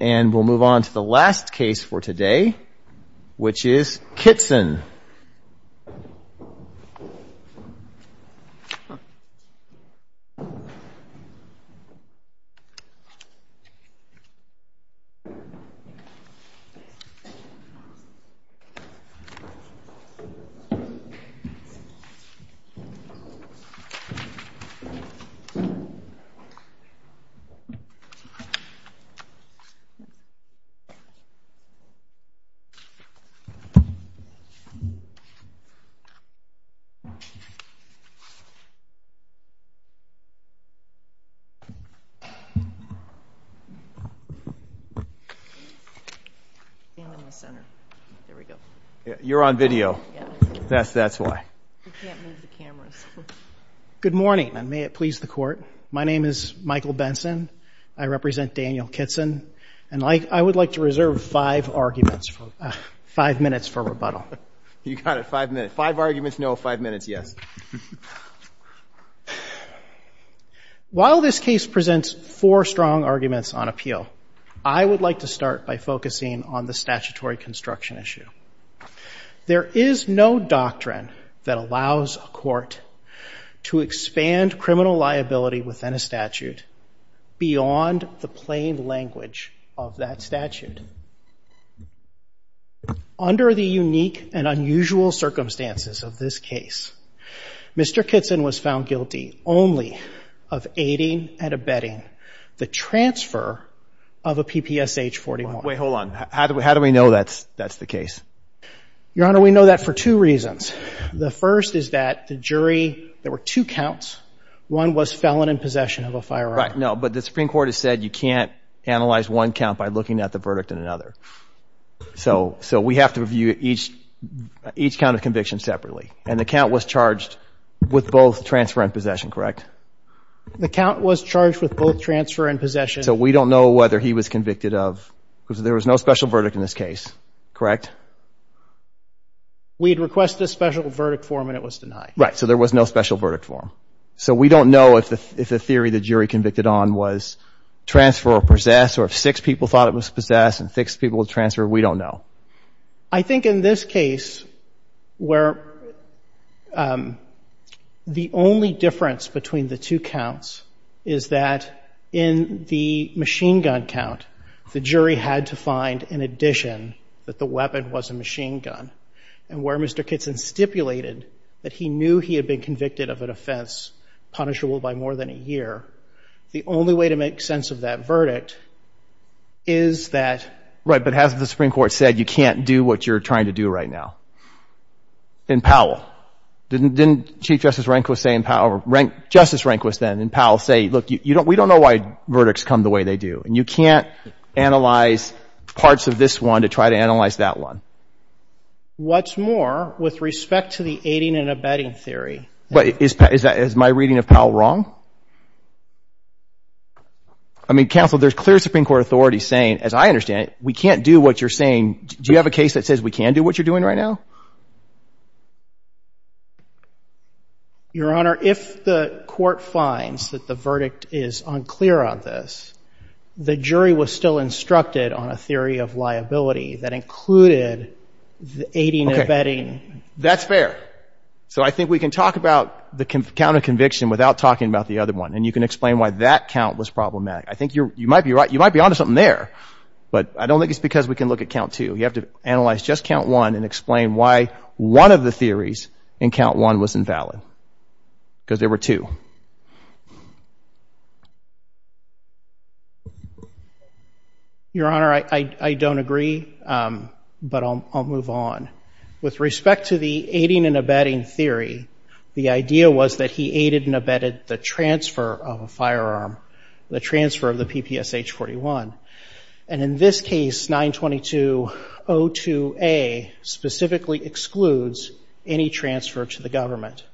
And we'll move on to the last case for today, which is Kittson. Good morning, and may it please the Court. My name is Michael Benson. I represent Daniel Kittson. And I would like to reserve five arguments, five minutes for rebuttal. You got it, five minutes. Five arguments, no. Five minutes, yes. While this case presents four strong arguments on appeal, I would like to start by focusing on the statutory construction issue. There is no doctrine that allows a court to expand criminal liability within a statute beyond the plain language of that statute. Under the unique and unusual circumstances of this case, Mr. Kittson was found guilty only of aiding and abetting the transfer of a PPSH-41. Wait, hold on. How do we know that's the case? Your Honor, we know that for two reasons. The first is that the jury, there were two counts. One was felon in possession of a firearm. Right, no, but the Supreme Court has said you can't analyze one count by looking at the verdict in another. So we have to review each count of conviction separately. And the count was charged with both transfer and possession, correct? The count was charged with both transfer and possession. So we don't know whether he was convicted of, because there was no special verdict in this case, correct? We had requested a special verdict form and it was denied. Right, so there was no special verdict form. So we don't know if the theory the jury convicted on was transfer or possess, or if six people thought it was possess and six people transferred. We don't know. I think in this case where the only difference between the two counts is that in the machine gun count, the jury had to find in addition that the weapon was a machine gun. And where Mr. Kitson stipulated that he knew he had been convicted of an offense punishable by more than a year, the only way to make sense of that verdict is that — you can't do what you're trying to do right now. And Powell, didn't Chief Justice Rehnquist say, Justice Rehnquist then and Powell say, look, we don't know why verdicts come the way they do. And you can't analyze parts of this one to try to analyze that one. What's more, with respect to the aiding and abetting theory — Is my reading of Powell wrong? I mean, counsel, there's clear Supreme Court authority saying, as I understand it, we can't do what you're saying. Do you have a case that says we can do what you're doing right now? Your Honor, if the court finds that the verdict is unclear on this, the jury was still instructed on a theory of liability that included the aiding and abetting. Okay. That's fair. So I think we can talk about the count of conviction without talking about the other one. And you can explain why that count was problematic. I think you might be right. You might be onto something there. But I don't think it's because we can look at count two. You have to analyze just count one and explain why one of the theories in count one was invalid, because there were two. Your Honor, I don't agree, but I'll move on. With respect to the aiding and abetting theory, the idea was that he aided and abetted the transfer of a firearm, the transfer of the PPSH-41. And in this case, 922.02a specifically excludes any transfer to the government.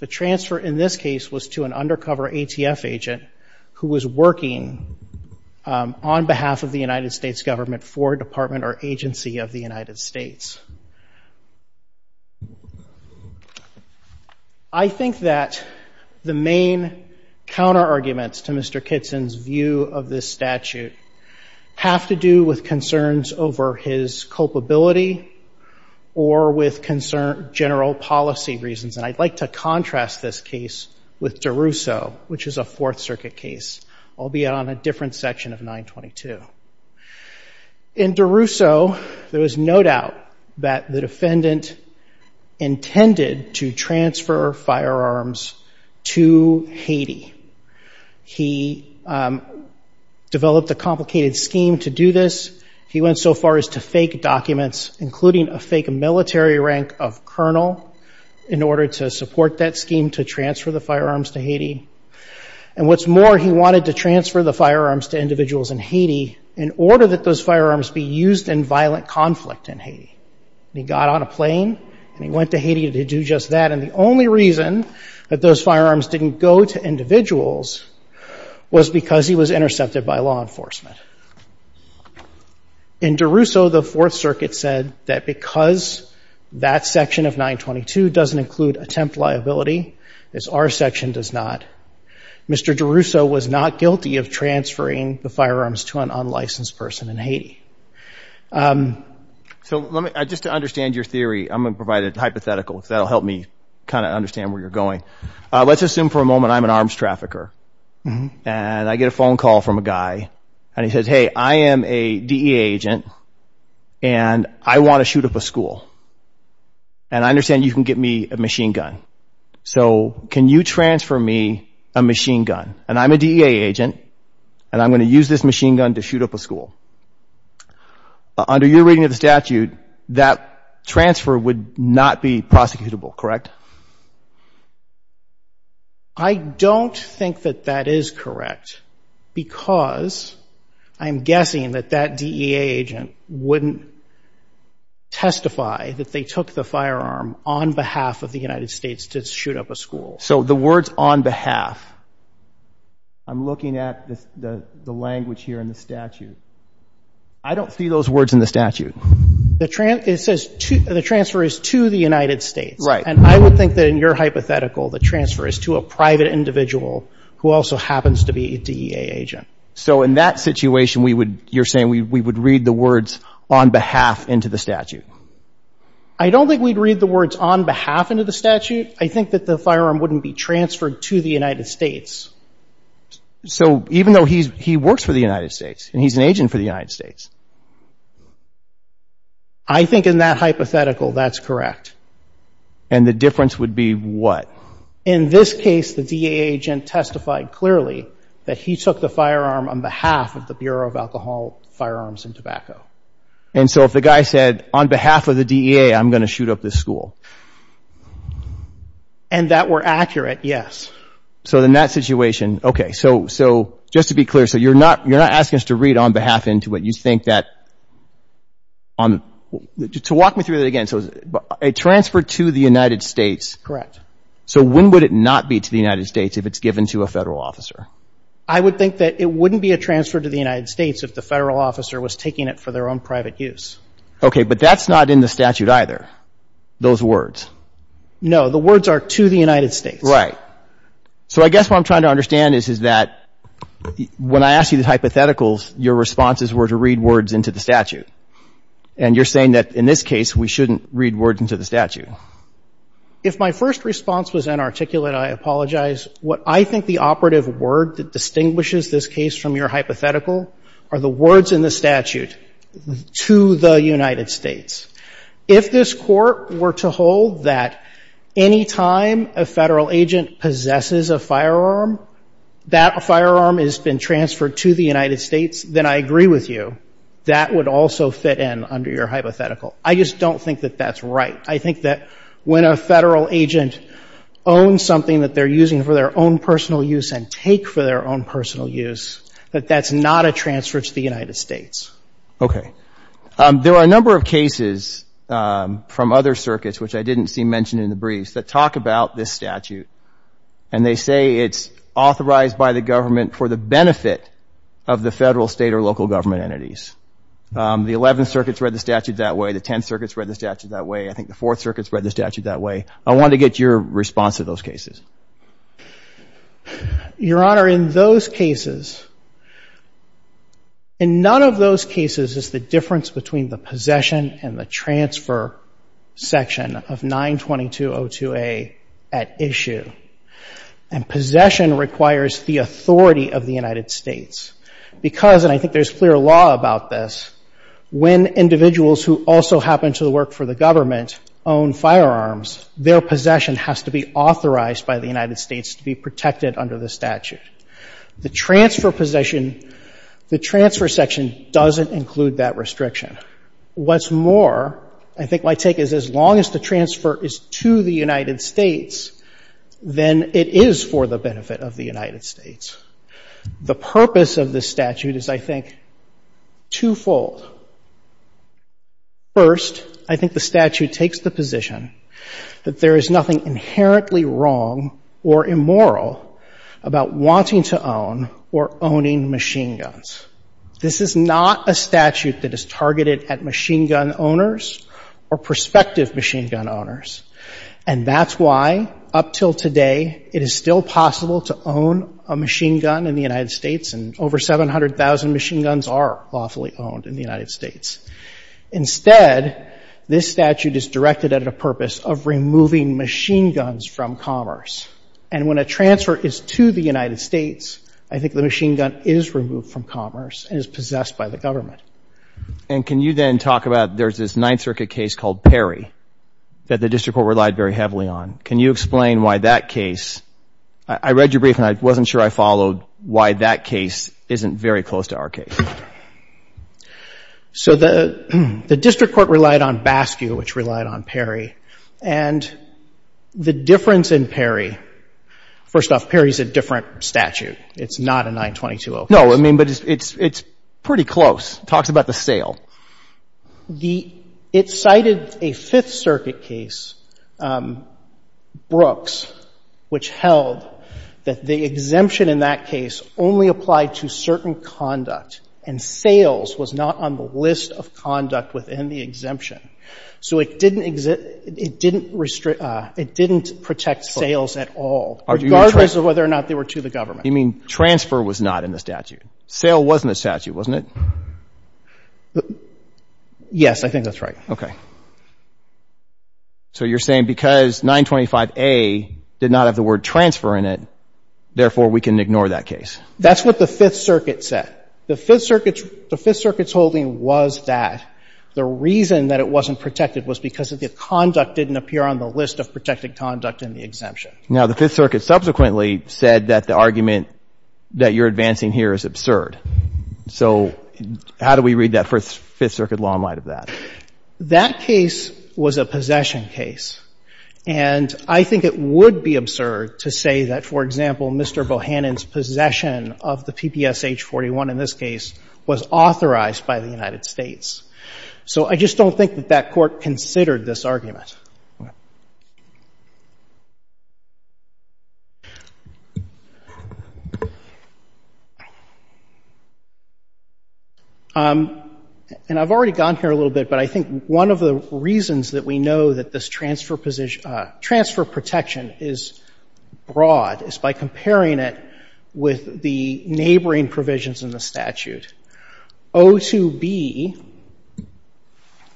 The transfer in this case was to an undercover ATF agent who was working on behalf of the United States government for a department or agency of the United States. I think that the main counter-arguments to Mr. Kitson's view of this statute have to do with concerns over his culpability or with general policy reasons. And I'd like to contrast this case with DeRusso, which is a Fourth Circuit case, albeit on a different section of 922. In DeRusso, there was no doubt that the defendant intended to transfer firearms to Haiti. He developed a complicated scheme to do this. He went so far as to fake documents, including a fake military rank of colonel, in order to support that scheme to transfer the firearms to Haiti. And what's more, he wanted to transfer the firearms to individuals in Haiti in order that those firearms be used in violent conflict in Haiti. He got on a plane, and he went to Haiti to do just that. And the only reason that those firearms didn't go to individuals was because he was intercepted by law enforcement. In DeRusso, the Fourth Circuit said that because that section of 922 doesn't include attempt liability, as our section does not, Mr. DeRusso was not guilty of transferring the firearms to an unlicensed person in Haiti. So just to understand your theory, I'm going to provide a hypothetical, because that will help me kind of understand where you're going. Let's assume for a moment I'm an arms trafficker, and I get a phone call from a guy, and he says, hey, I am a DEA agent, and I want to shoot up a school. And I understand you can get me a machine gun. So can you transfer me a machine gun? And I'm a DEA agent, and I'm going to use this machine gun to shoot up a school. Under your reading of the statute, that transfer would not be prosecutable, correct? I don't think that that is correct, because I'm guessing that that DEA agent wouldn't testify that they took the firearm on behalf of the United States to shoot up a school. So the words on behalf, I'm looking at the language here in the statute. I don't see those words in the statute. It says the transfer is to the United States. Right. And I would think that in your hypothetical the transfer is to a private individual who also happens to be a DEA agent. So in that situation, you're saying we would read the words on behalf into the statute? I don't think we'd read the words on behalf into the statute. I think that the firearm wouldn't be transferred to the United States. So even though he works for the United States, and he's an agent for the United States? I think in that hypothetical that's correct. And the difference would be what? In this case, the DEA agent testified clearly that he took the firearm on behalf of the Bureau of Alcohol, Firearms, and Tobacco. And so if the guy said, on behalf of the DEA, I'm going to shoot up this school? And that were accurate, yes. So in that situation, okay, so just to be clear, so you're not asking us to read on behalf into it. You think that on – to walk me through that again. So a transfer to the United States. Correct. So when would it not be to the United States if it's given to a Federal officer? I would think that it wouldn't be a transfer to the United States if the Federal officer was taking it for their own private use. Okay. But that's not in the statute either, those words. No. The words are to the United States. Right. So I guess what I'm trying to understand is that when I asked you the hypotheticals, your responses were to read words into the statute. And you're saying that in this case, we shouldn't read words into the statute. If my first response was inarticulate, I apologize. What I think the operative word that distinguishes this case from your hypothetical are the words in the statute, to the United States. If this Court were to hold that any time a Federal agent possesses a firearm, that firearm has been transferred to the United States, then I agree with you. That would also fit in under your hypothetical. I just don't think that that's right. I think that when a Federal agent owns something that they're using for their own personal use and take for their own personal use, that that's not a transfer to the United States. Okay. There are a number of cases from other circuits, which I didn't see mentioned in the briefs, that talk about this statute. And they say it's authorized by the government for the benefit of the Federal, State, or local government entities. The Eleventh Circuit's read the statute that way. The Tenth Circuit's read the statute that way. I think the Fourth Circuit's read the statute that way. I wanted to get your response to those cases. Your Honor, in those cases, in none of those cases is the difference between the possession and the transfer section of 922.02a at issue. And possession requires the authority of the United States because, and I think there's clear law about this, when individuals who also happen to work for the government own firearms, their possession has to be authorized by the United States to be protected under the statute. The transfer possession, the transfer section doesn't include that restriction. What's more, I think my take is as long as the transfer is to the United States, then it is for the benefit of the United States. The purpose of this statute is, I think, twofold. First, I think the statute takes the position that there is nothing inherently wrong or immoral about wanting to own or owning machine guns. This is not a statute that is targeted at machine gun owners or prospective machine gun owners. And that's why, up till today, it is still possible to own a machine gun in the United States, and over 700,000 machine guns are lawfully owned in the United States. Instead, this statute is directed at a purpose of removing machine guns from commerce. And when a transfer is to the United States, I think the machine gun is removed from commerce and is possessed by the government. And can you then talk about, there's this Ninth Circuit case called Perry that the district court relied very heavily on. Can you explain why that case, I read your brief and I wasn't sure I followed, why that case isn't very close to our case? So the district court relied on BASCU, which relied on Perry. And the difference in Perry, first off, Perry is a different statute. It's not a 922-0 case. No, I mean, but it's pretty close. It talks about the sale. It cited a Fifth Circuit case, Brooks, which held that the exemption in that case only applied to certain conduct, and sales was not on the list of conduct within the exemption. So it didn't protect sales at all, regardless of whether or not they were to the government. You mean transfer was not in the statute. Sale wasn't a statute, wasn't it? Yes, I think that's right. Okay. So you're saying because 925A did not have the word transfer in it, therefore we can ignore that case. That's what the Fifth Circuit said. The Fifth Circuit's holding was that the reason that it wasn't protected was because of the conduct didn't appear on the list of protected conduct in the exemption. Now, the Fifth Circuit subsequently said that the argument that you're advancing here is absurd. So how do we read that Fifth Circuit law in light of that? That case was a possession case. And I think it would be absurd to say that, for example, Mr. Bohannon's possession of the PPSH-41 in this case was authorized by the United States. So I just don't think that that Court considered this argument. And I've already gone here a little bit, but I think one of the reasons that we know that this transfer protection is broad is by comparing it with the neighboring provisions in the statute. O2B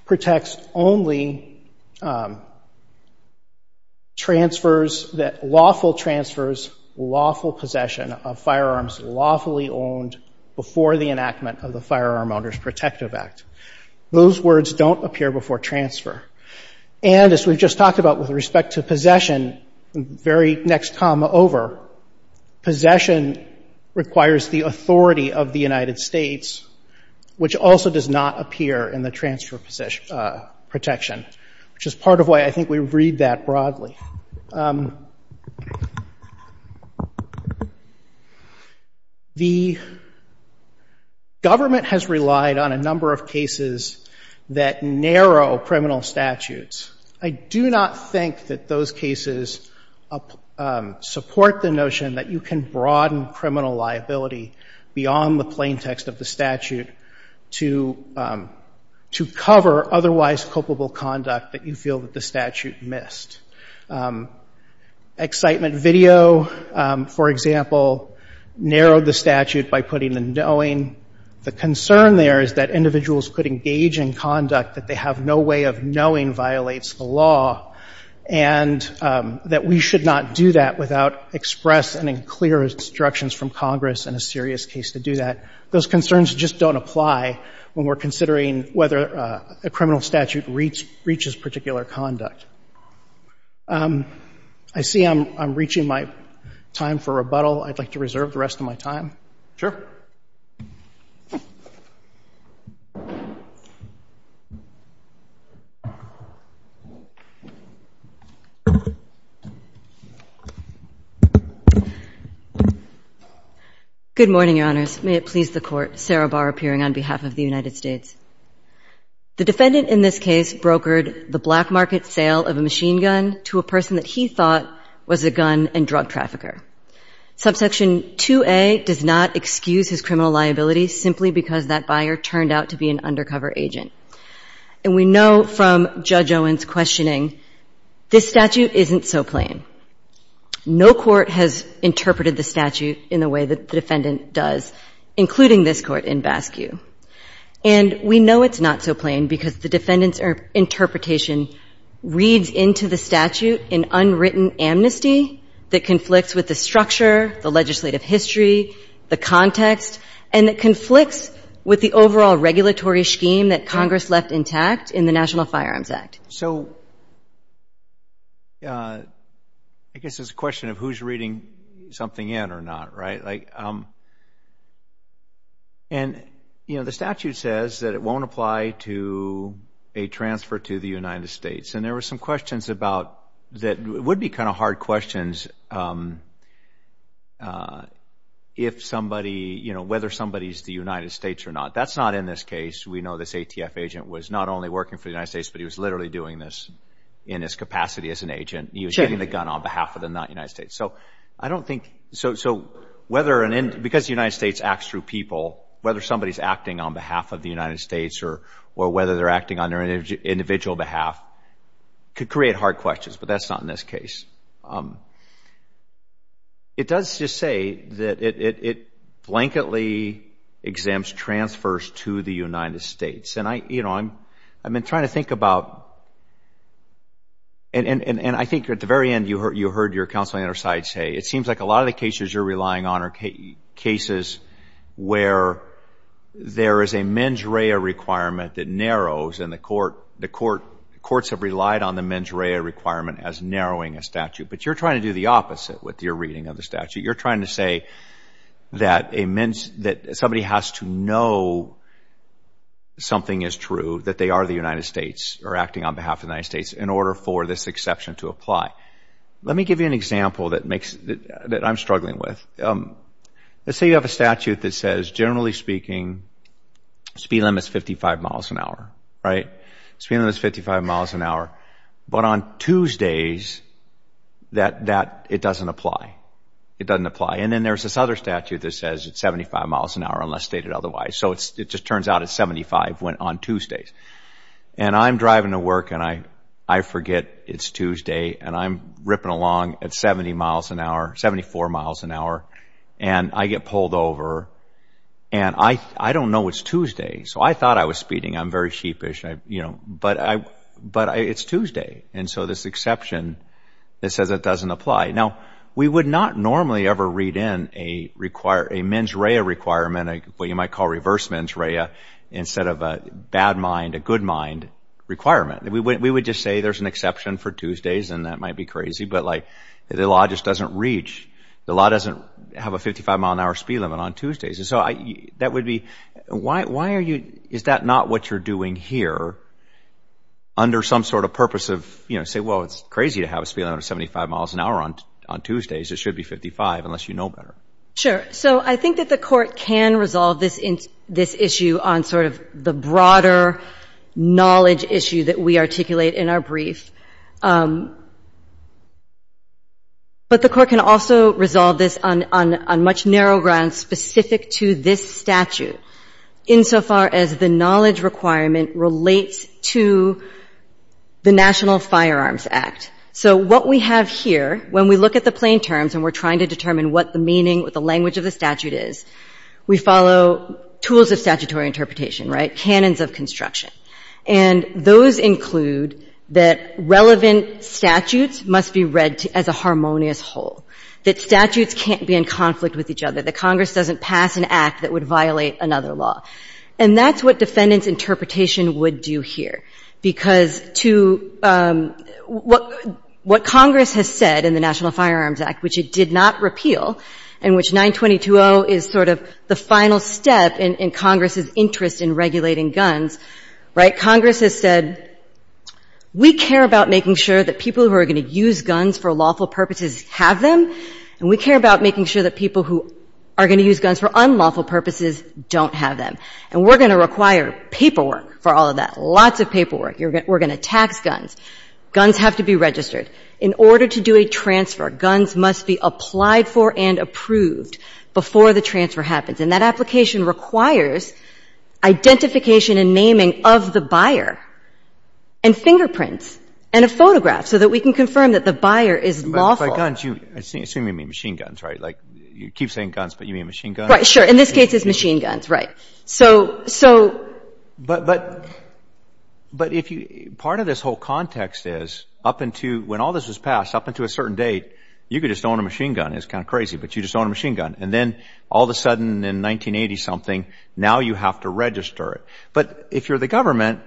protects only transfers that lawful transfers, lawful possession of firearms lawfully owned before the enactment of the Firearm Owners Protective Act. Those words don't appear before transfer. And as we've just talked about with respect to possession, very next comma over, possession requires the authority of the United States, which also does not appear in the transfer protection, which is part of why I think we read that broadly. The government has relied on a number of cases that narrow criminal statutes. I do not think that those cases support the notion that you can broaden criminal liability beyond the plaintext of the statute to cover otherwise culpable conduct that you feel that the statute missed. Excitement video, for example, narrowed the statute by putting the knowing. The concern there is that individuals could engage in conduct that they have no way of knowing violates the law and that we should not do that without express and clear instructions from Congress in a serious case to do that. Those concerns just don't apply when we're considering whether a criminal statute reaches particular conduct. I see I'm reaching my time for rebuttal. I'd like to reserve the rest of my time. Good morning, Your Honors. May it please the Court. Sarah Barr appearing on behalf of the United States. The defendant in this case brokered the black market sale of a machine gun to a person that he thought was a gun and drug trafficker. Subsection 2A does not excuse his criminal liability simply because that buyer turned out to be an undercover agent. And we know from Judge Owens' questioning, this statute isn't so plain. No court has interpreted the statute in the way that the defendant does, including this court in BASCU. And we know it's not so plain because the defendant's interpretation reads into the structure, the legislative history, the context, and it conflicts with the overall regulatory scheme that Congress left intact in the National Firearms Act. So I guess it's a question of who's reading something in or not, right? Like, and, you know, the statute says that it won't apply to a transfer to the United States. And there were some questions about that would be kind of hard questions if somebody, you know, whether somebody's the United States or not. That's not in this case. We know this ATF agent was not only working for the United States, but he was literally doing this in his capacity as an agent. He was getting the gun on behalf of the United States. So I don't think, so whether, because the United States acts through people, whether somebody's acting on behalf of the United States or whether they're acting on their individual behalf could create hard questions. But that's not in this case. It does just say that it blanketly exempts transfers to the United States. And I, you know, I've been trying to think about, and I think at the very end you heard your counsel on the other side say, it seems like a lot of the cases you're relying on are cases where there is a mens rea requirement that narrows and the courts have relied on the mens rea requirement as narrowing a statute. But you're trying to do the opposite with your reading of the statute. You're trying to say that somebody has to know something is true, that they are the United States or acting on behalf of the United States in order for this exception to apply. Let me give you an example that makes, that I'm struggling with. Let's say you have a statute that says, generally speaking, speed limit is 55 miles an hour. Right? Speed limit is 55 miles an hour. But on Tuesdays, that, it doesn't apply. It doesn't apply. And then there's this other statute that says it's 75 miles an hour unless stated otherwise. So it just turns out it's 75 on Tuesdays. And I'm driving to work and I forget it's Tuesday and I'm ripping along at 70 miles an hour, 74 miles an hour, and I get pulled over and I don't know it's Tuesday. So I thought I was speeding. I'm very sheepish. But it's Tuesday. And so this exception that says it doesn't apply. Now, we would not normally ever read in a mens rea requirement, what you might call reverse mens rea, instead of a bad mind, a good mind requirement. We would just say there's an exception for Tuesdays and that might be crazy. But, like, the law just doesn't reach. The law doesn't have a 55-mile-an-hour speed limit on Tuesdays. And so that would be, why are you, is that not what you're doing here under some sort of purpose of, you know, say, well, it's crazy to have a speed limit of 75 miles an hour on Tuesdays. It should be 55 unless you know better. Sure. So I think that the Court can resolve this issue on sort of the broader knowledge issue that we articulate in our brief. But the Court can also resolve this on much narrow grounds specific to this statute, insofar as the knowledge requirement relates to the National Firearms Act. So what we have here, when we look at the plain terms and we're trying to determine what the meaning, what the language of the statute is, we follow tools of statutory interpretation, right, canons of construction. And those include that relevant statutes must be read as a harmonious whole, that statutes can't be in conflict with each other, that Congress doesn't pass an act that would violate another law. And that's what defendants' interpretation would do here. Because to what Congress has said in the National Firearms Act, which it did not repeal, and which 922.0 is sort of the final step in Congress's interest in regulating guns, right, Congress has said, we care about making sure that people who are going to use guns for lawful purposes have them, and we care about making sure that people who are going to use guns for unlawful purposes don't have them. And we're going to require paperwork for all of that, lots of paperwork. We're going to tax guns. Guns have to be registered. In order to do a transfer, guns must be applied for and approved before the transfer happens. And that application requires identification and naming of the buyer and fingerprints and a photograph so that we can confirm that the buyer is lawful. Assuming you mean machine guns, right? Like, you keep saying guns, but you mean machine guns? Right. Sure. In this case, it's machine guns. Right. But if you – part of this whole context is up until – when all this was passed, up until a certain date, you could just own a machine gun. It's kind of crazy, but you just own a machine gun. And then all of a sudden in 1980-something, now you have to register it. But if you're the government,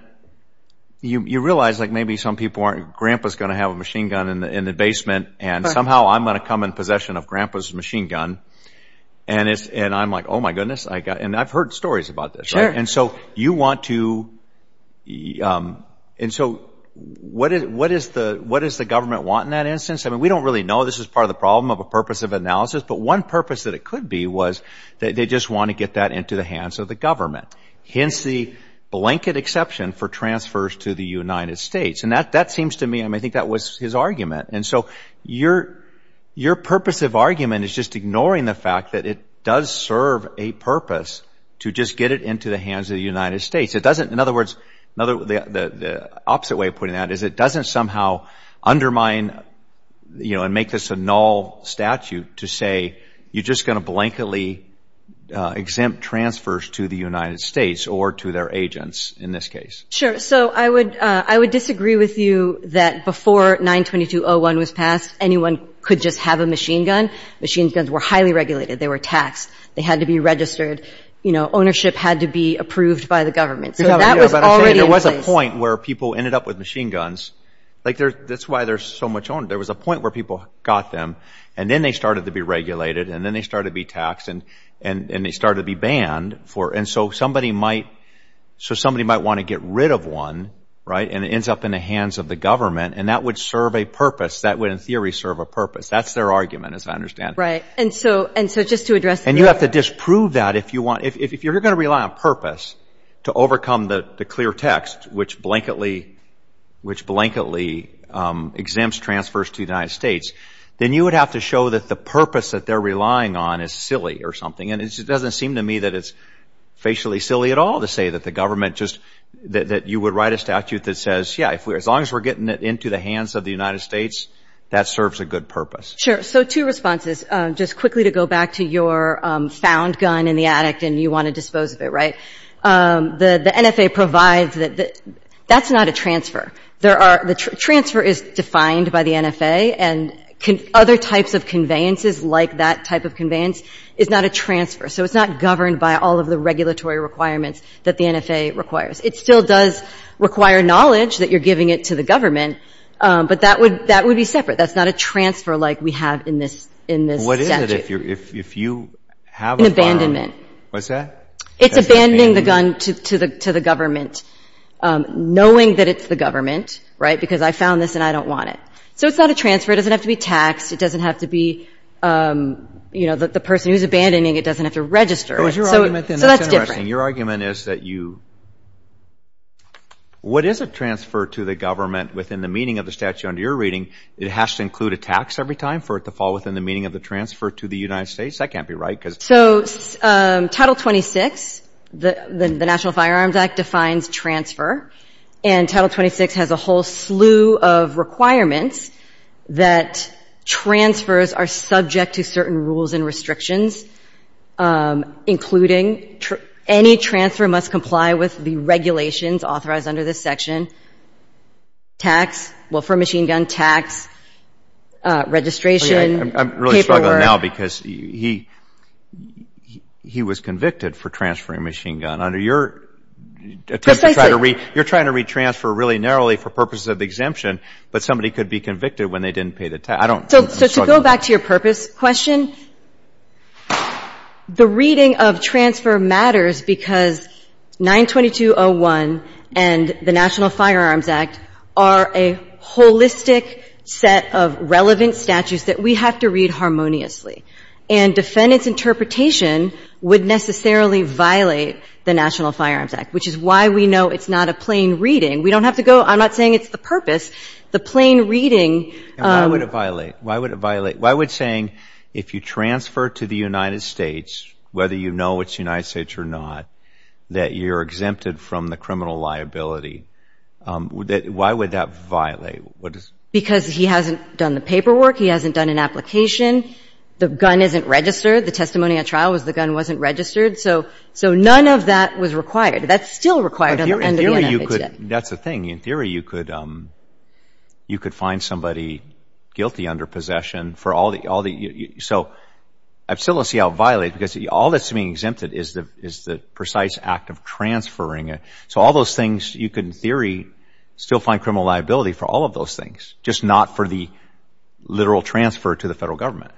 you realize, like, maybe some people aren't – and somehow I'm going to come in possession of Grandpa's machine gun. And I'm like, oh, my goodness. And I've heard stories about this, right? And so you want to – and so what does the government want in that instance? I mean, we don't really know. This is part of the problem of a purpose of analysis. But one purpose that it could be was they just want to get that into the hands of the government. Hence the blanket exception for transfers to the United States. And that seems to me – I mean, I think that was his argument. And so your purpose of argument is just ignoring the fact that it does serve a purpose to just get it into the hands of the United States. It doesn't – in other words, the opposite way of putting that is it doesn't somehow undermine and make this a null statute to say you're just going to blanketly exempt transfers to the United States or to their agents in this case. Sure. So I would disagree with you that before 922.01 was passed, anyone could just have a machine gun. Machine guns were highly regulated. They were taxed. They had to be registered. Ownership had to be approved by the government. So that was already in place. There was a point where people ended up with machine guns. Like, that's why there's so much – there was a point where people got them. And then they started to be regulated. And then they started to be taxed. And they started to be banned. And so somebody might want to get rid of one, right, and it ends up in the hands of the government. And that would serve a purpose. That would, in theory, serve a purpose. That's their argument, as I understand it. Right. And so just to address – And you have to disprove that if you want – if you're going to rely on purpose to overcome the clear text, which blankedly exempts transfers to the United States, then you would have to show that the purpose that they're relying on is silly or something. And it doesn't seem to me that it's facially silly at all to say that the government just – that you would write a statute that says, yeah, as long as we're getting it into the hands of the United States, that serves a good purpose. Sure. So two responses. Just quickly to go back to your found gun in the attic and you want to dispose of it, right. The NFA provides – that's not a transfer. There are – the transfer is defined by the NFA. And other types of conveyances like that type of conveyance is not a transfer. So it's not governed by all of the regulatory requirements that the NFA requires. It still does require knowledge that you're giving it to the government, but that would be separate. That's not a transfer like we have in this statute. What is it if you have a firearm? An abandonment. What's that? It's abandoning the gun to the government, knowing that it's the government, right, because I found this and I don't want it. So it's not a transfer. It doesn't have to be taxed. It doesn't have to be, you know, the person who's abandoning it doesn't have to register it. So that's different. Your argument is that you – what is a transfer to the government within the meaning of the statute under your reading? It has to include a tax every time for it to fall within the meaning of the transfer to the United States? That can't be right. So Title 26, the National Firearms Act, defines transfer. And Title 26 has a whole slew of requirements that transfers are subject to certain rules and restrictions, including any transfer must comply with the regulations authorized under this section, tax, well, for a machine gun, tax, registration, paperwork. I'm really struggling now because he was convicted for transferring a machine gun. Under your attempt to try to read – you're trying to read transfer really narrowly for purposes of exemption, but somebody could be convicted when they didn't pay the tax. I don't – I'm struggling. So to go back to your purpose question, the reading of transfer matters because 922.01 and the National Firearms Act are a holistic set of relevant statutes that we have to read harmoniously. And defendant's interpretation would necessarily violate the National Firearms Act, which is why we know it's not a plain reading. We don't have to go – I'm not saying it's the purpose. The plain reading – And why would it violate? Why would it violate? Why would saying if you transfer to the United States, whether you know it's the United States or not, that you're exempted from the criminal liability, why would that violate? Because he hasn't done the paperwork. He hasn't done an application. The gun isn't registered. The testimony at trial was the gun wasn't registered. So none of that was required. That's still required under the United States. In theory, you could – that's the thing. In theory, you could find somebody guilty under possession for all the – so I still don't see how it violates because all that's being exempted is the precise act of transferring it. So all those things you could, in theory, still find criminal liability for all of those things, just not for the literal transfer to the Federal Government.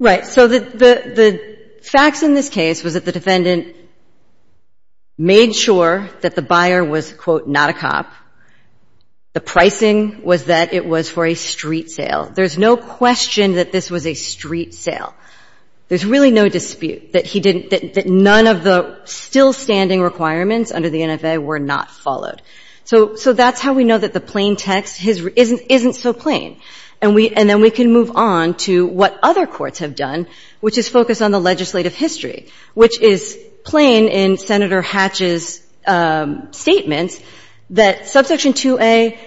Right. So the facts in this case was that the defendant made sure that the buyer was, quote, not a cop. The pricing was that it was for a street sale. There's no question that this was a street sale. There's really no dispute that he didn't – that none of the still-standing requirements under the NFA were not followed. So that's how we know that the plain text isn't so plain. And then we can move on to what other courts have done, which is focus on the legislative history, which is plain in Senator Hatch's statements that Subsection 2A,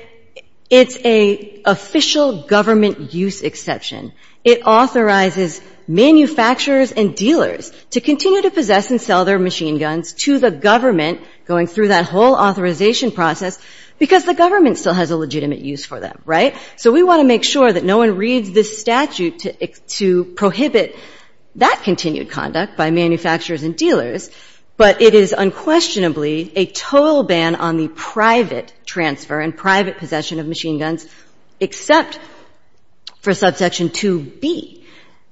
it's an official government use exception. It authorizes manufacturers and dealers to continue to possess and sell their machine guns to the government, going through that whole authorization process, because the government still has a legitimate use for them. Right? So we want to make sure that no one reads this statute to prohibit that continued conduct by manufacturers and dealers, but it is unquestionably a total ban on the private transfer and private possession of machine guns, except for Subsection 2B.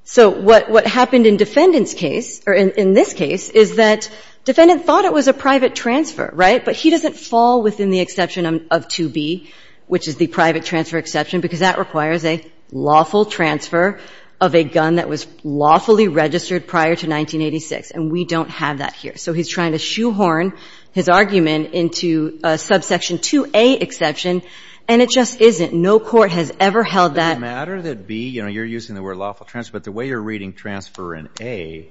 So what happened in Defendant's case, or in this case, is that Defendant thought it was a private transfer, right? But he doesn't fall within the exception of 2B, which is the private transfer exception, because that requires a lawful transfer of a gun that was lawfully registered prior to 1986, and we don't have that here. So he's trying to shoehorn his argument into a Subsection 2A exception, and it just isn't. No court has ever held that. Does it matter that B, you're using the word lawful transfer, but the way you're reading transfer in A,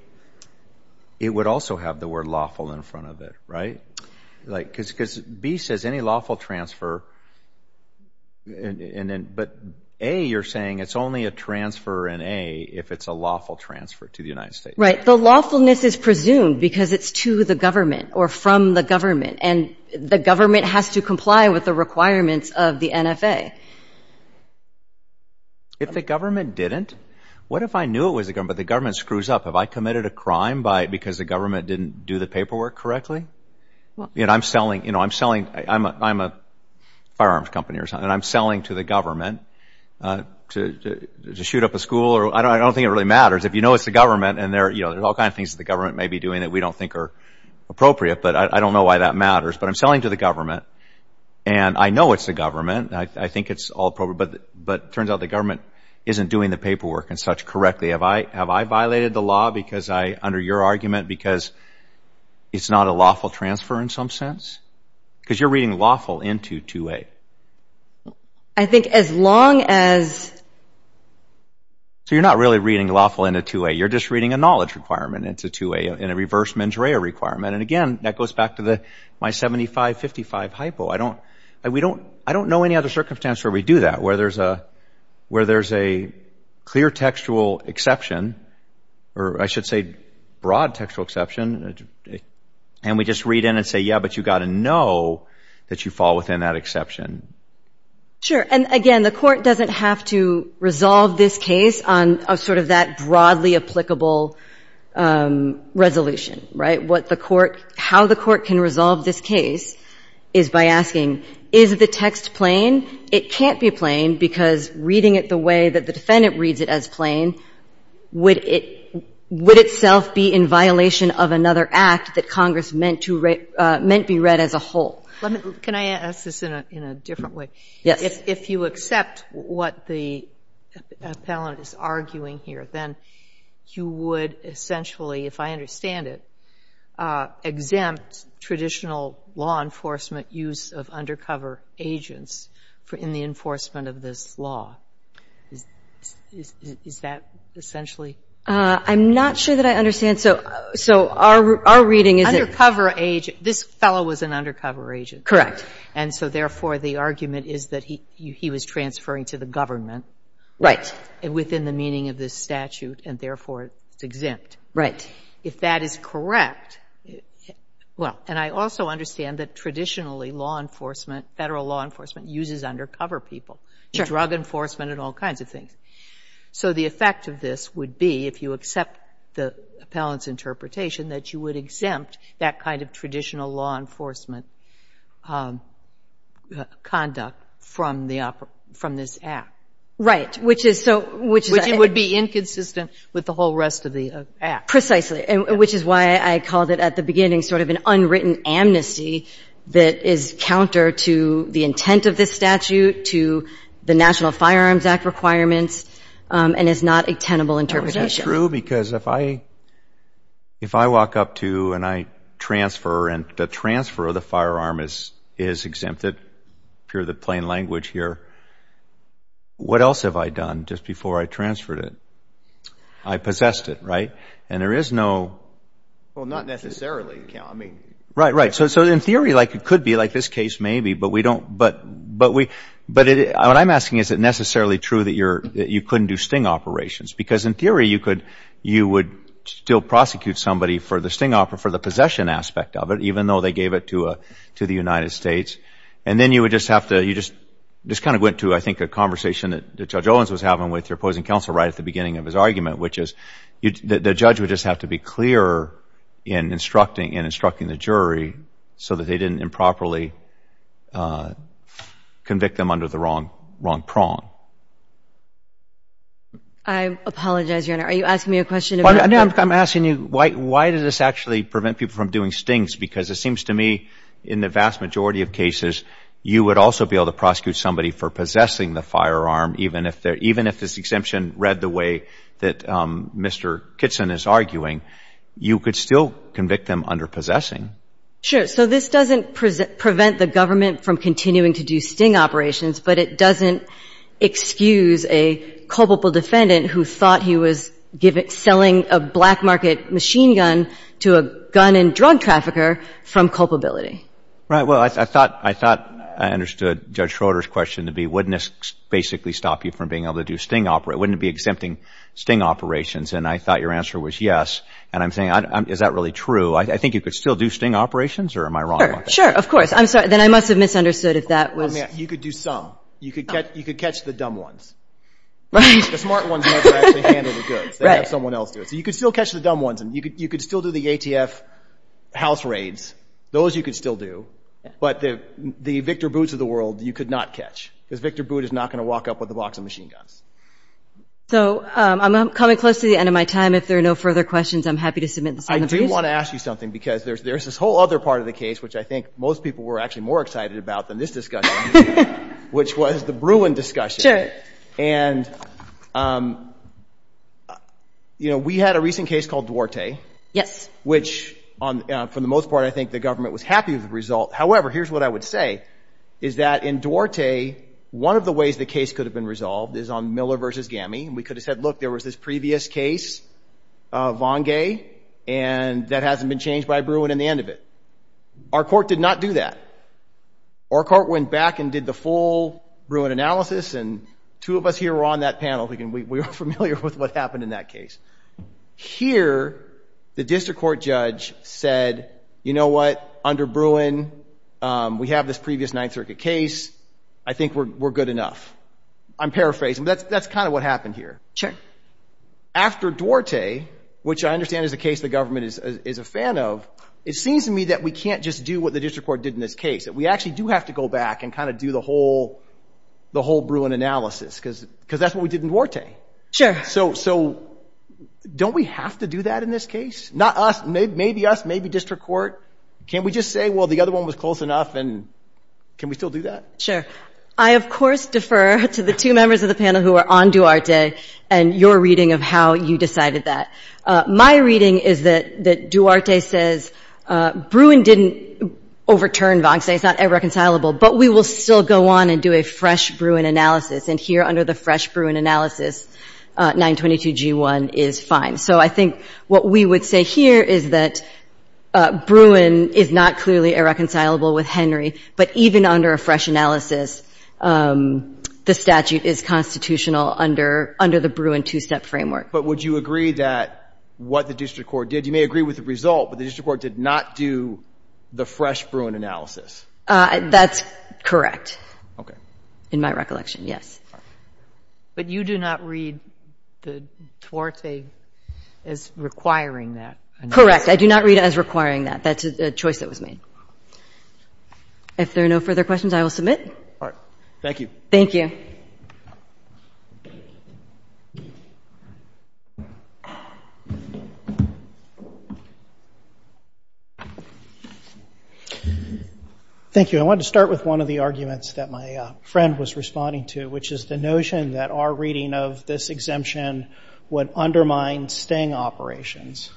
it would also have the word lawful in front of it, right? Because B says any lawful transfer, but A, you're saying it's only a transfer in A if it's a lawful transfer to the United States. Right. The lawfulness is presumed because it's to the government or from the government, and the government has to comply with the requirements of the NFA. If the government didn't, what if I knew it was the government, but the government screws up? Have I committed a crime because the government didn't do the paperwork correctly? I'm selling, you know, I'm selling, I'm a firearms company or something, and I'm selling to the government to shoot up a school, or I don't think it really matters. If you know it's the government, and there are all kinds of things that the government may be doing that we don't think are appropriate, but I don't know why that matters, but I'm selling to the government, and I know it's the government, and I think it's all appropriate, but it turns out the government isn't doing the paperwork and such correctly. Have I violated the law because I, under your argument, because it's not a lawful transfer in some sense? Because you're reading lawful into 2A. I think as long as... So you're not really reading lawful into 2A. You're just reading a knowledge requirement into 2A and a reverse mens rea requirement. And, again, that goes back to my 75-55 hypo. I don't know any other circumstance where we do that, where there's a clear textual exception, or I should say broad textual exception, and we just read in and say, yeah, but you've got to know that you fall within that exception. Sure. And, again, the court doesn't have to resolve this case on sort of that broadly applicable resolution, right? But the court, how the court can resolve this case is by asking, is the text plain? It can't be plain because reading it the way that the defendant reads it as plain would itself be in violation of another act that Congress meant to be read as a whole. Can I ask this in a different way? Yes. If you accept what the appellant is arguing here, then you would essentially, if I understand it, exempt traditional law enforcement use of undercover agents in the enforcement of this law. Is that essentially? I'm not sure that I understand. So our reading is that the undercover agent, this fellow was an undercover agent. And so, therefore, the argument is that he was transferring to the government within the meaning of this statute, and, therefore, it's exempt. Right. If that is correct, well, and I also understand that traditionally law enforcement, federal law enforcement, uses undercover people. Sure. Drug enforcement and all kinds of things. So the effect of this would be, if you accept the appellant's interpretation, that you would exempt that kind of traditional law enforcement conduct from this act. Right. Which would be inconsistent with the whole rest of the act. Precisely. Which is why I called it at the beginning sort of an unwritten amnesty that is counter to the intent of this statute, to the National Firearms Act requirements, and is not a tenable interpretation. Is that true? Because if I walk up to and I transfer and the transfer of the firearm is exempted, pure to plain language here, what else have I done just before I transferred it? I possessed it. Right? And there is no. Well, not necessarily. I mean. Right. Right. So, in theory, like it could be, like this case maybe, but we don't. But what I'm asking, is it necessarily true that you couldn't do sting operations? Because, in theory, you would still prosecute somebody for the sting operation, for the possession aspect of it, even though they gave it to the United States. And then you would just have to, you just kind of went to, I think, a conversation that Judge Owens was having with your opposing counsel right at the beginning of his argument, which is, the judge would just have to be clearer in instructing the jury so that they didn't improperly convict them under the wrong prong. I apologize, Your Honor. Are you asking me a question? No, I'm asking you, why does this actually prevent people from doing stings? Because it seems to me, in the vast majority of cases, you would also be able to prosecute somebody for possessing the firearm, even if this exemption read the way that Mr. Kitson is arguing. You could still convict them under possessing. Sure. So this doesn't prevent the government from continuing to do sting operations, but it doesn't excuse a culpable defendant who thought he was selling a black gun trafficker from culpability. Right. Well, I thought I understood Judge Schroeder's question to be, wouldn't this basically stop you from being able to do sting operations? Wouldn't it be exempting sting operations? And I thought your answer was yes. And I'm saying, is that really true? I think you could still do sting operations, or am I wrong about that? Sure. Of course. I'm sorry. Then I must have misunderstood if that was. You could do some. You could catch the dumb ones. The smart ones know how to actually handle the goods. Right. They have someone else do it. So you could still catch the dumb ones. You could still do the ATF house raids. Those you could still do. But the Victor Boots of the world you could not catch, because Victor Boot is not going to walk up with a box of machine guns. So I'm coming close to the end of my time. If there are no further questions, I'm happy to submit them. I do want to ask you something, because there's this whole other part of the case, which I think most people were actually more excited about than this discussion, which was the Bruin discussion. Sure. And, you know, we had a recent case called Duarte. Yes. Which, for the most part, I think the government was happy with the result. However, here's what I would say, is that in Duarte, one of the ways the case could have been resolved is on Miller v. We could have said, look, there was this previous case, Vongay, and that hasn't been changed by Bruin in the end of it. Our court did not do that. Our court went back and did the full Bruin analysis, and two of us here were on that panel. We were familiar with what happened in that case. Here, the district court judge said, you know what? Under Bruin, we have this previous Ninth Circuit case. I think we're good enough. I'm paraphrasing. That's kind of what happened here. Sure. After Duarte, which I understand is a case the government is a fan of, it seems to me that we can't just do what the district court did in this case, that we actually do have to go back and kind of do the whole Bruin analysis, because that's what we did in Duarte. Sure. So don't we have to do that in this case? Not us. Maybe us. Maybe district court. Can't we just say, well, the other one was close enough, and can we still do that? Sure. I, of course, defer to the two members of the panel who are on Duarte and your reading of how you decided that. My reading is that Duarte says, Bruin didn't overturn Vongsay. It's not irreconcilable. But we will still go on and do a fresh Bruin analysis. And here, under the fresh Bruin analysis, 922G1 is fine. So I think what we would say here is that Bruin is not clearly irreconcilable with Henry, but even under a fresh analysis, the statute is constitutional under the Bruin two-step framework. But would you agree that what the district court did, you may agree with the result, but the district court did not do the fresh Bruin analysis? That's correct. Okay. In my recollection, yes. But you do not read the Duarte as requiring that analysis? Correct. I do not read it as requiring that. That's a choice that was made. If there are no further questions, I will submit. All right. Thank you. Thank you. Thank you. I wanted to start with one of the arguments that my friend was responding to, which is the notion that our reading of this exemption would undermine sting operations.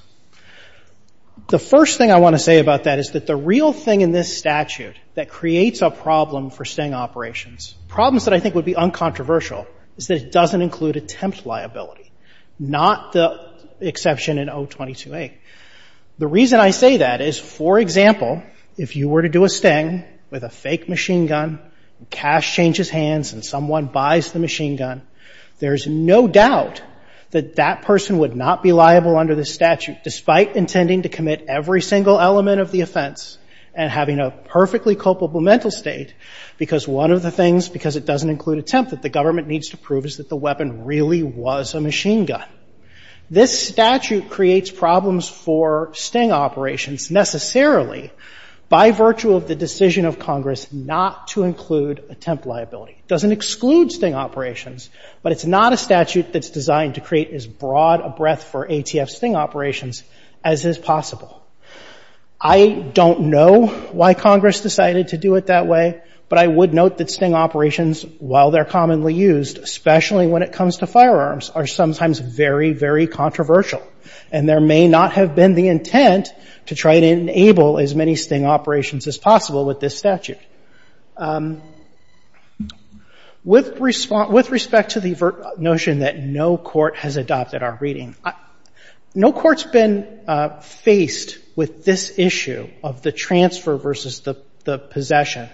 The first thing I want to say about that is that the real thing in this statute that creates a problem for sting operations, problems that I think would be uncontroversial, is that it doesn't include attempt liability. Not the exception in 022A. The reason I say that is, for example, if you were to do a sting with a fake machine gun and cash changes hands and someone buys the machine gun, there's no doubt that that person would not be liable under this statute, despite intending to commit every single element of the offense and having a perfectly culpable mental state, because one of the things, because it doesn't include attempt, that the government needs to prove is that the weapon really was a machine gun. This statute creates problems for sting operations necessarily by virtue of the decision of Congress not to include attempt liability. It doesn't exclude sting operations, but it's not a statute that's designed to create as broad a breadth for ATF sting operations as is possible. I don't know why Congress decided to do it that way, but I would note that sting operations, while they're commonly used, especially when it comes to firearms, are sometimes very, very controversial, and there may not have been the intent to try to enable as many sting operations as possible with this statute. With respect to the notion that no court has adopted our reading, no court's been faced with this issue of the transfer versus the possession.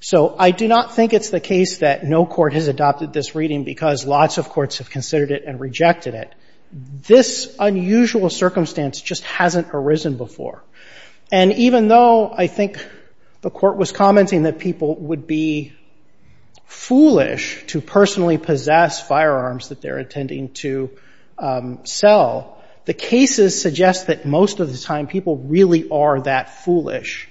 So I do not think it's the case that no court has adopted this reading because lots of courts have considered it and rejected it. This unusual circumstance just hasn't arisen before. And even though I think the court was commenting that people would be foolish to personally possess firearms that they're intending to sell, the cases suggest that most of the time people really are that foolish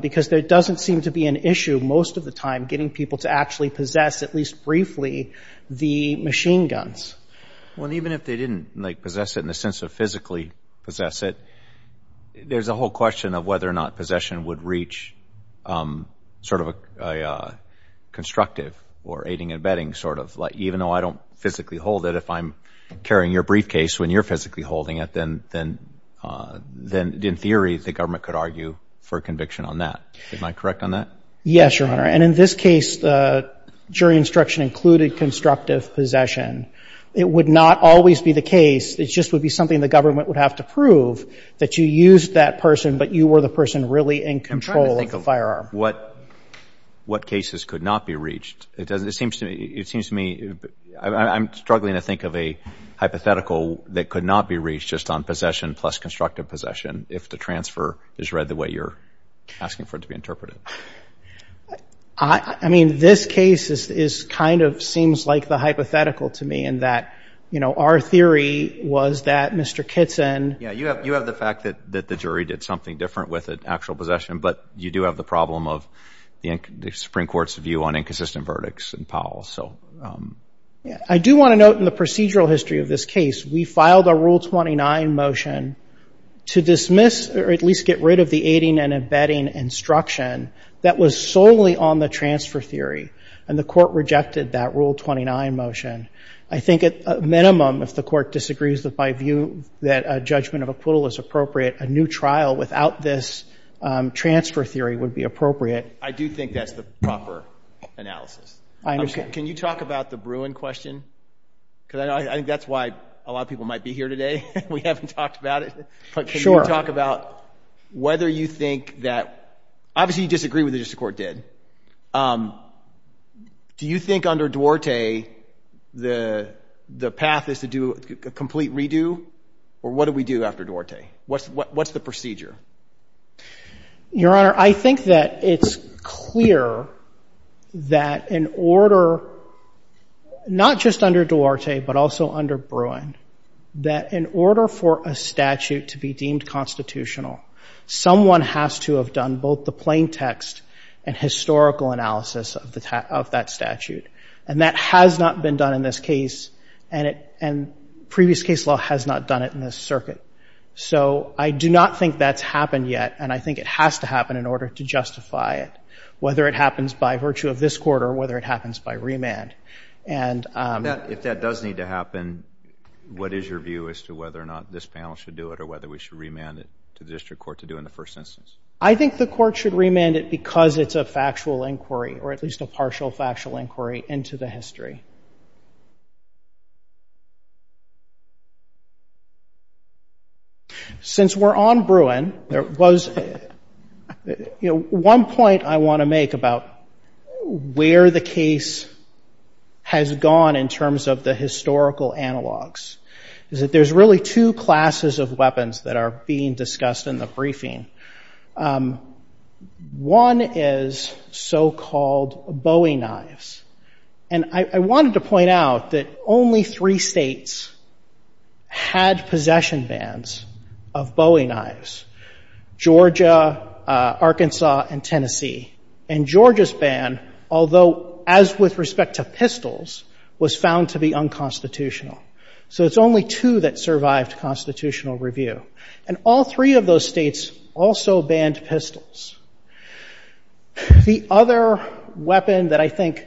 because there doesn't seem to be an issue most of the time getting people to actually possess, at least briefly, the machine guns. Well, even if they didn't, like, possess it in the sense of physically possess it, there's a whole question of whether or not possession would reach sort of a constructive or aiding and abetting sort of, like even though I don't physically hold it, if I'm carrying your briefcase when you're physically holding it, then in theory the government could argue for conviction on that. Am I correct on that? Yes, Your Honor. And in this case, jury instruction included constructive possession. It would not always be the case. It just would be something the government would have to prove, that you used that person, but you were the person really in control of the firearm. I'm trying to think of what cases could not be reached. It seems to me, I'm struggling to think of a hypothetical that could not be reached just on possession plus constructive possession if the transfer is read the way you're asking for it to be interpreted. I mean, this case is kind of seems like the hypothetical to me in that, you know, our theory was that Mr. Kitson. Yeah, you have the fact that the jury did something different with actual possession, but you do have the problem of the Supreme Court's view on inconsistent verdicts in Powell. I do want to note in the procedural history of this case, we filed a Rule 29 motion to dismiss or at least get rid of the aiding and abetting instruction that was solely on the transfer theory, and the court rejected that Rule 29 motion. I think at a minimum, if the court disagrees that by view that a judgment of acquittal is appropriate, a new trial without this transfer theory would be appropriate. I do think that's the proper analysis. I understand. Can you talk about the Bruin question? Because I think that's why a lot of people might be here today and we haven't talked about it. Sure. But can you talk about whether you think that, obviously you disagree with it just the court did. Do you think under Duarte the path is to do a complete redo? Or what do we do after Duarte? What's the procedure? Your Honor, I think that it's clear that in order, not just under Duarte, but also under Bruin, that in order for a statute to be deemed constitutional, someone has to have done both the plain text and historical analysis of that statute. And that has not been done in this case, and previous case law has not done it in this circuit. So I do not think that's happened yet, and I think it has to happen in order to justify it, whether it happens by virtue of this court or whether it happens by remand. If that does need to happen, what is your view as to whether or not this panel should do it or whether we should remand it to the district court to do it in the first instance? I think the court should remand it because it's a factual inquiry or at least a partial factual inquiry into the history. Since we're on Bruin, there was... You know, one point I want to make about where the case has gone in terms of the historical analogues is that there's really two classes of weapons that are being discussed in the briefing. One is so-called Bowie knives. And I wanted to point out that only three states had possession bans of Bowie knives. Georgia, Arkansas and Tennessee. And Georgia's ban, although as with respect to pistols, was found to be unconstitutional. So it's only two that survived constitutional review. And all three of those states also banned pistols. The other weapon that I think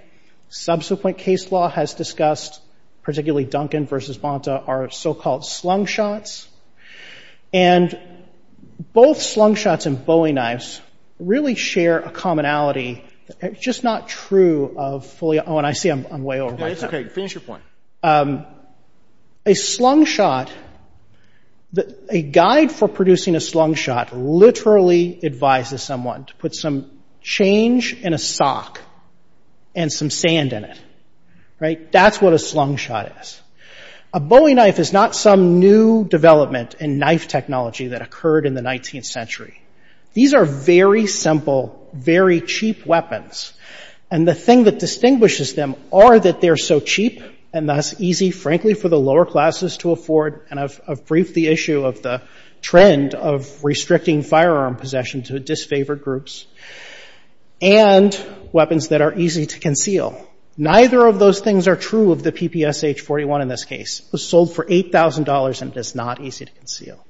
subsequent case law has discussed, particularly Duncan v. Bonta, are so-called slung shots. And both slung shots and Bowie knives really share a commonality that's just not true of fully... Oh, and I see I'm way over my time. It's OK. Finish your point. A slung shot... A guide for producing a slung shot literally advises someone to put some change in a sock and some sand in it. That's what a slung shot is. A Bowie knife is not some new development in knife technology that occurred in the 19th century. These are very simple, very cheap weapons. And the thing that distinguishes them are that they're so cheap and thus easy, frankly, for the lower classes to afford. And I've briefed the issue of the trend of restricting firearm possession to disfavored groups. And weapons that are easy to conceal. Neither of those things are true of the PPSH-41 in this case. It was sold for $8,000, and it is not easy to conceal.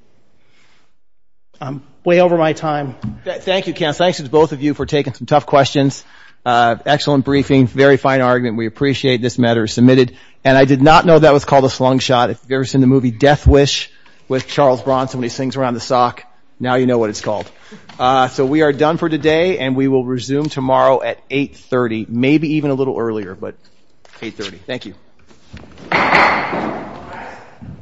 I'm way over my time. Thank you, Ken. Thanks to both of you for taking some tough questions. Excellent briefing. Very fine argument. We appreciate this matter submitted. And I did not know that was called a slung shot. If you've ever seen the movie Death Wish with Charles Bronson when he swings around the sock, now you know what it's called. So we are done for today, and we will resume tomorrow at 8.30. Maybe even a little earlier, but 8.30. Thank you.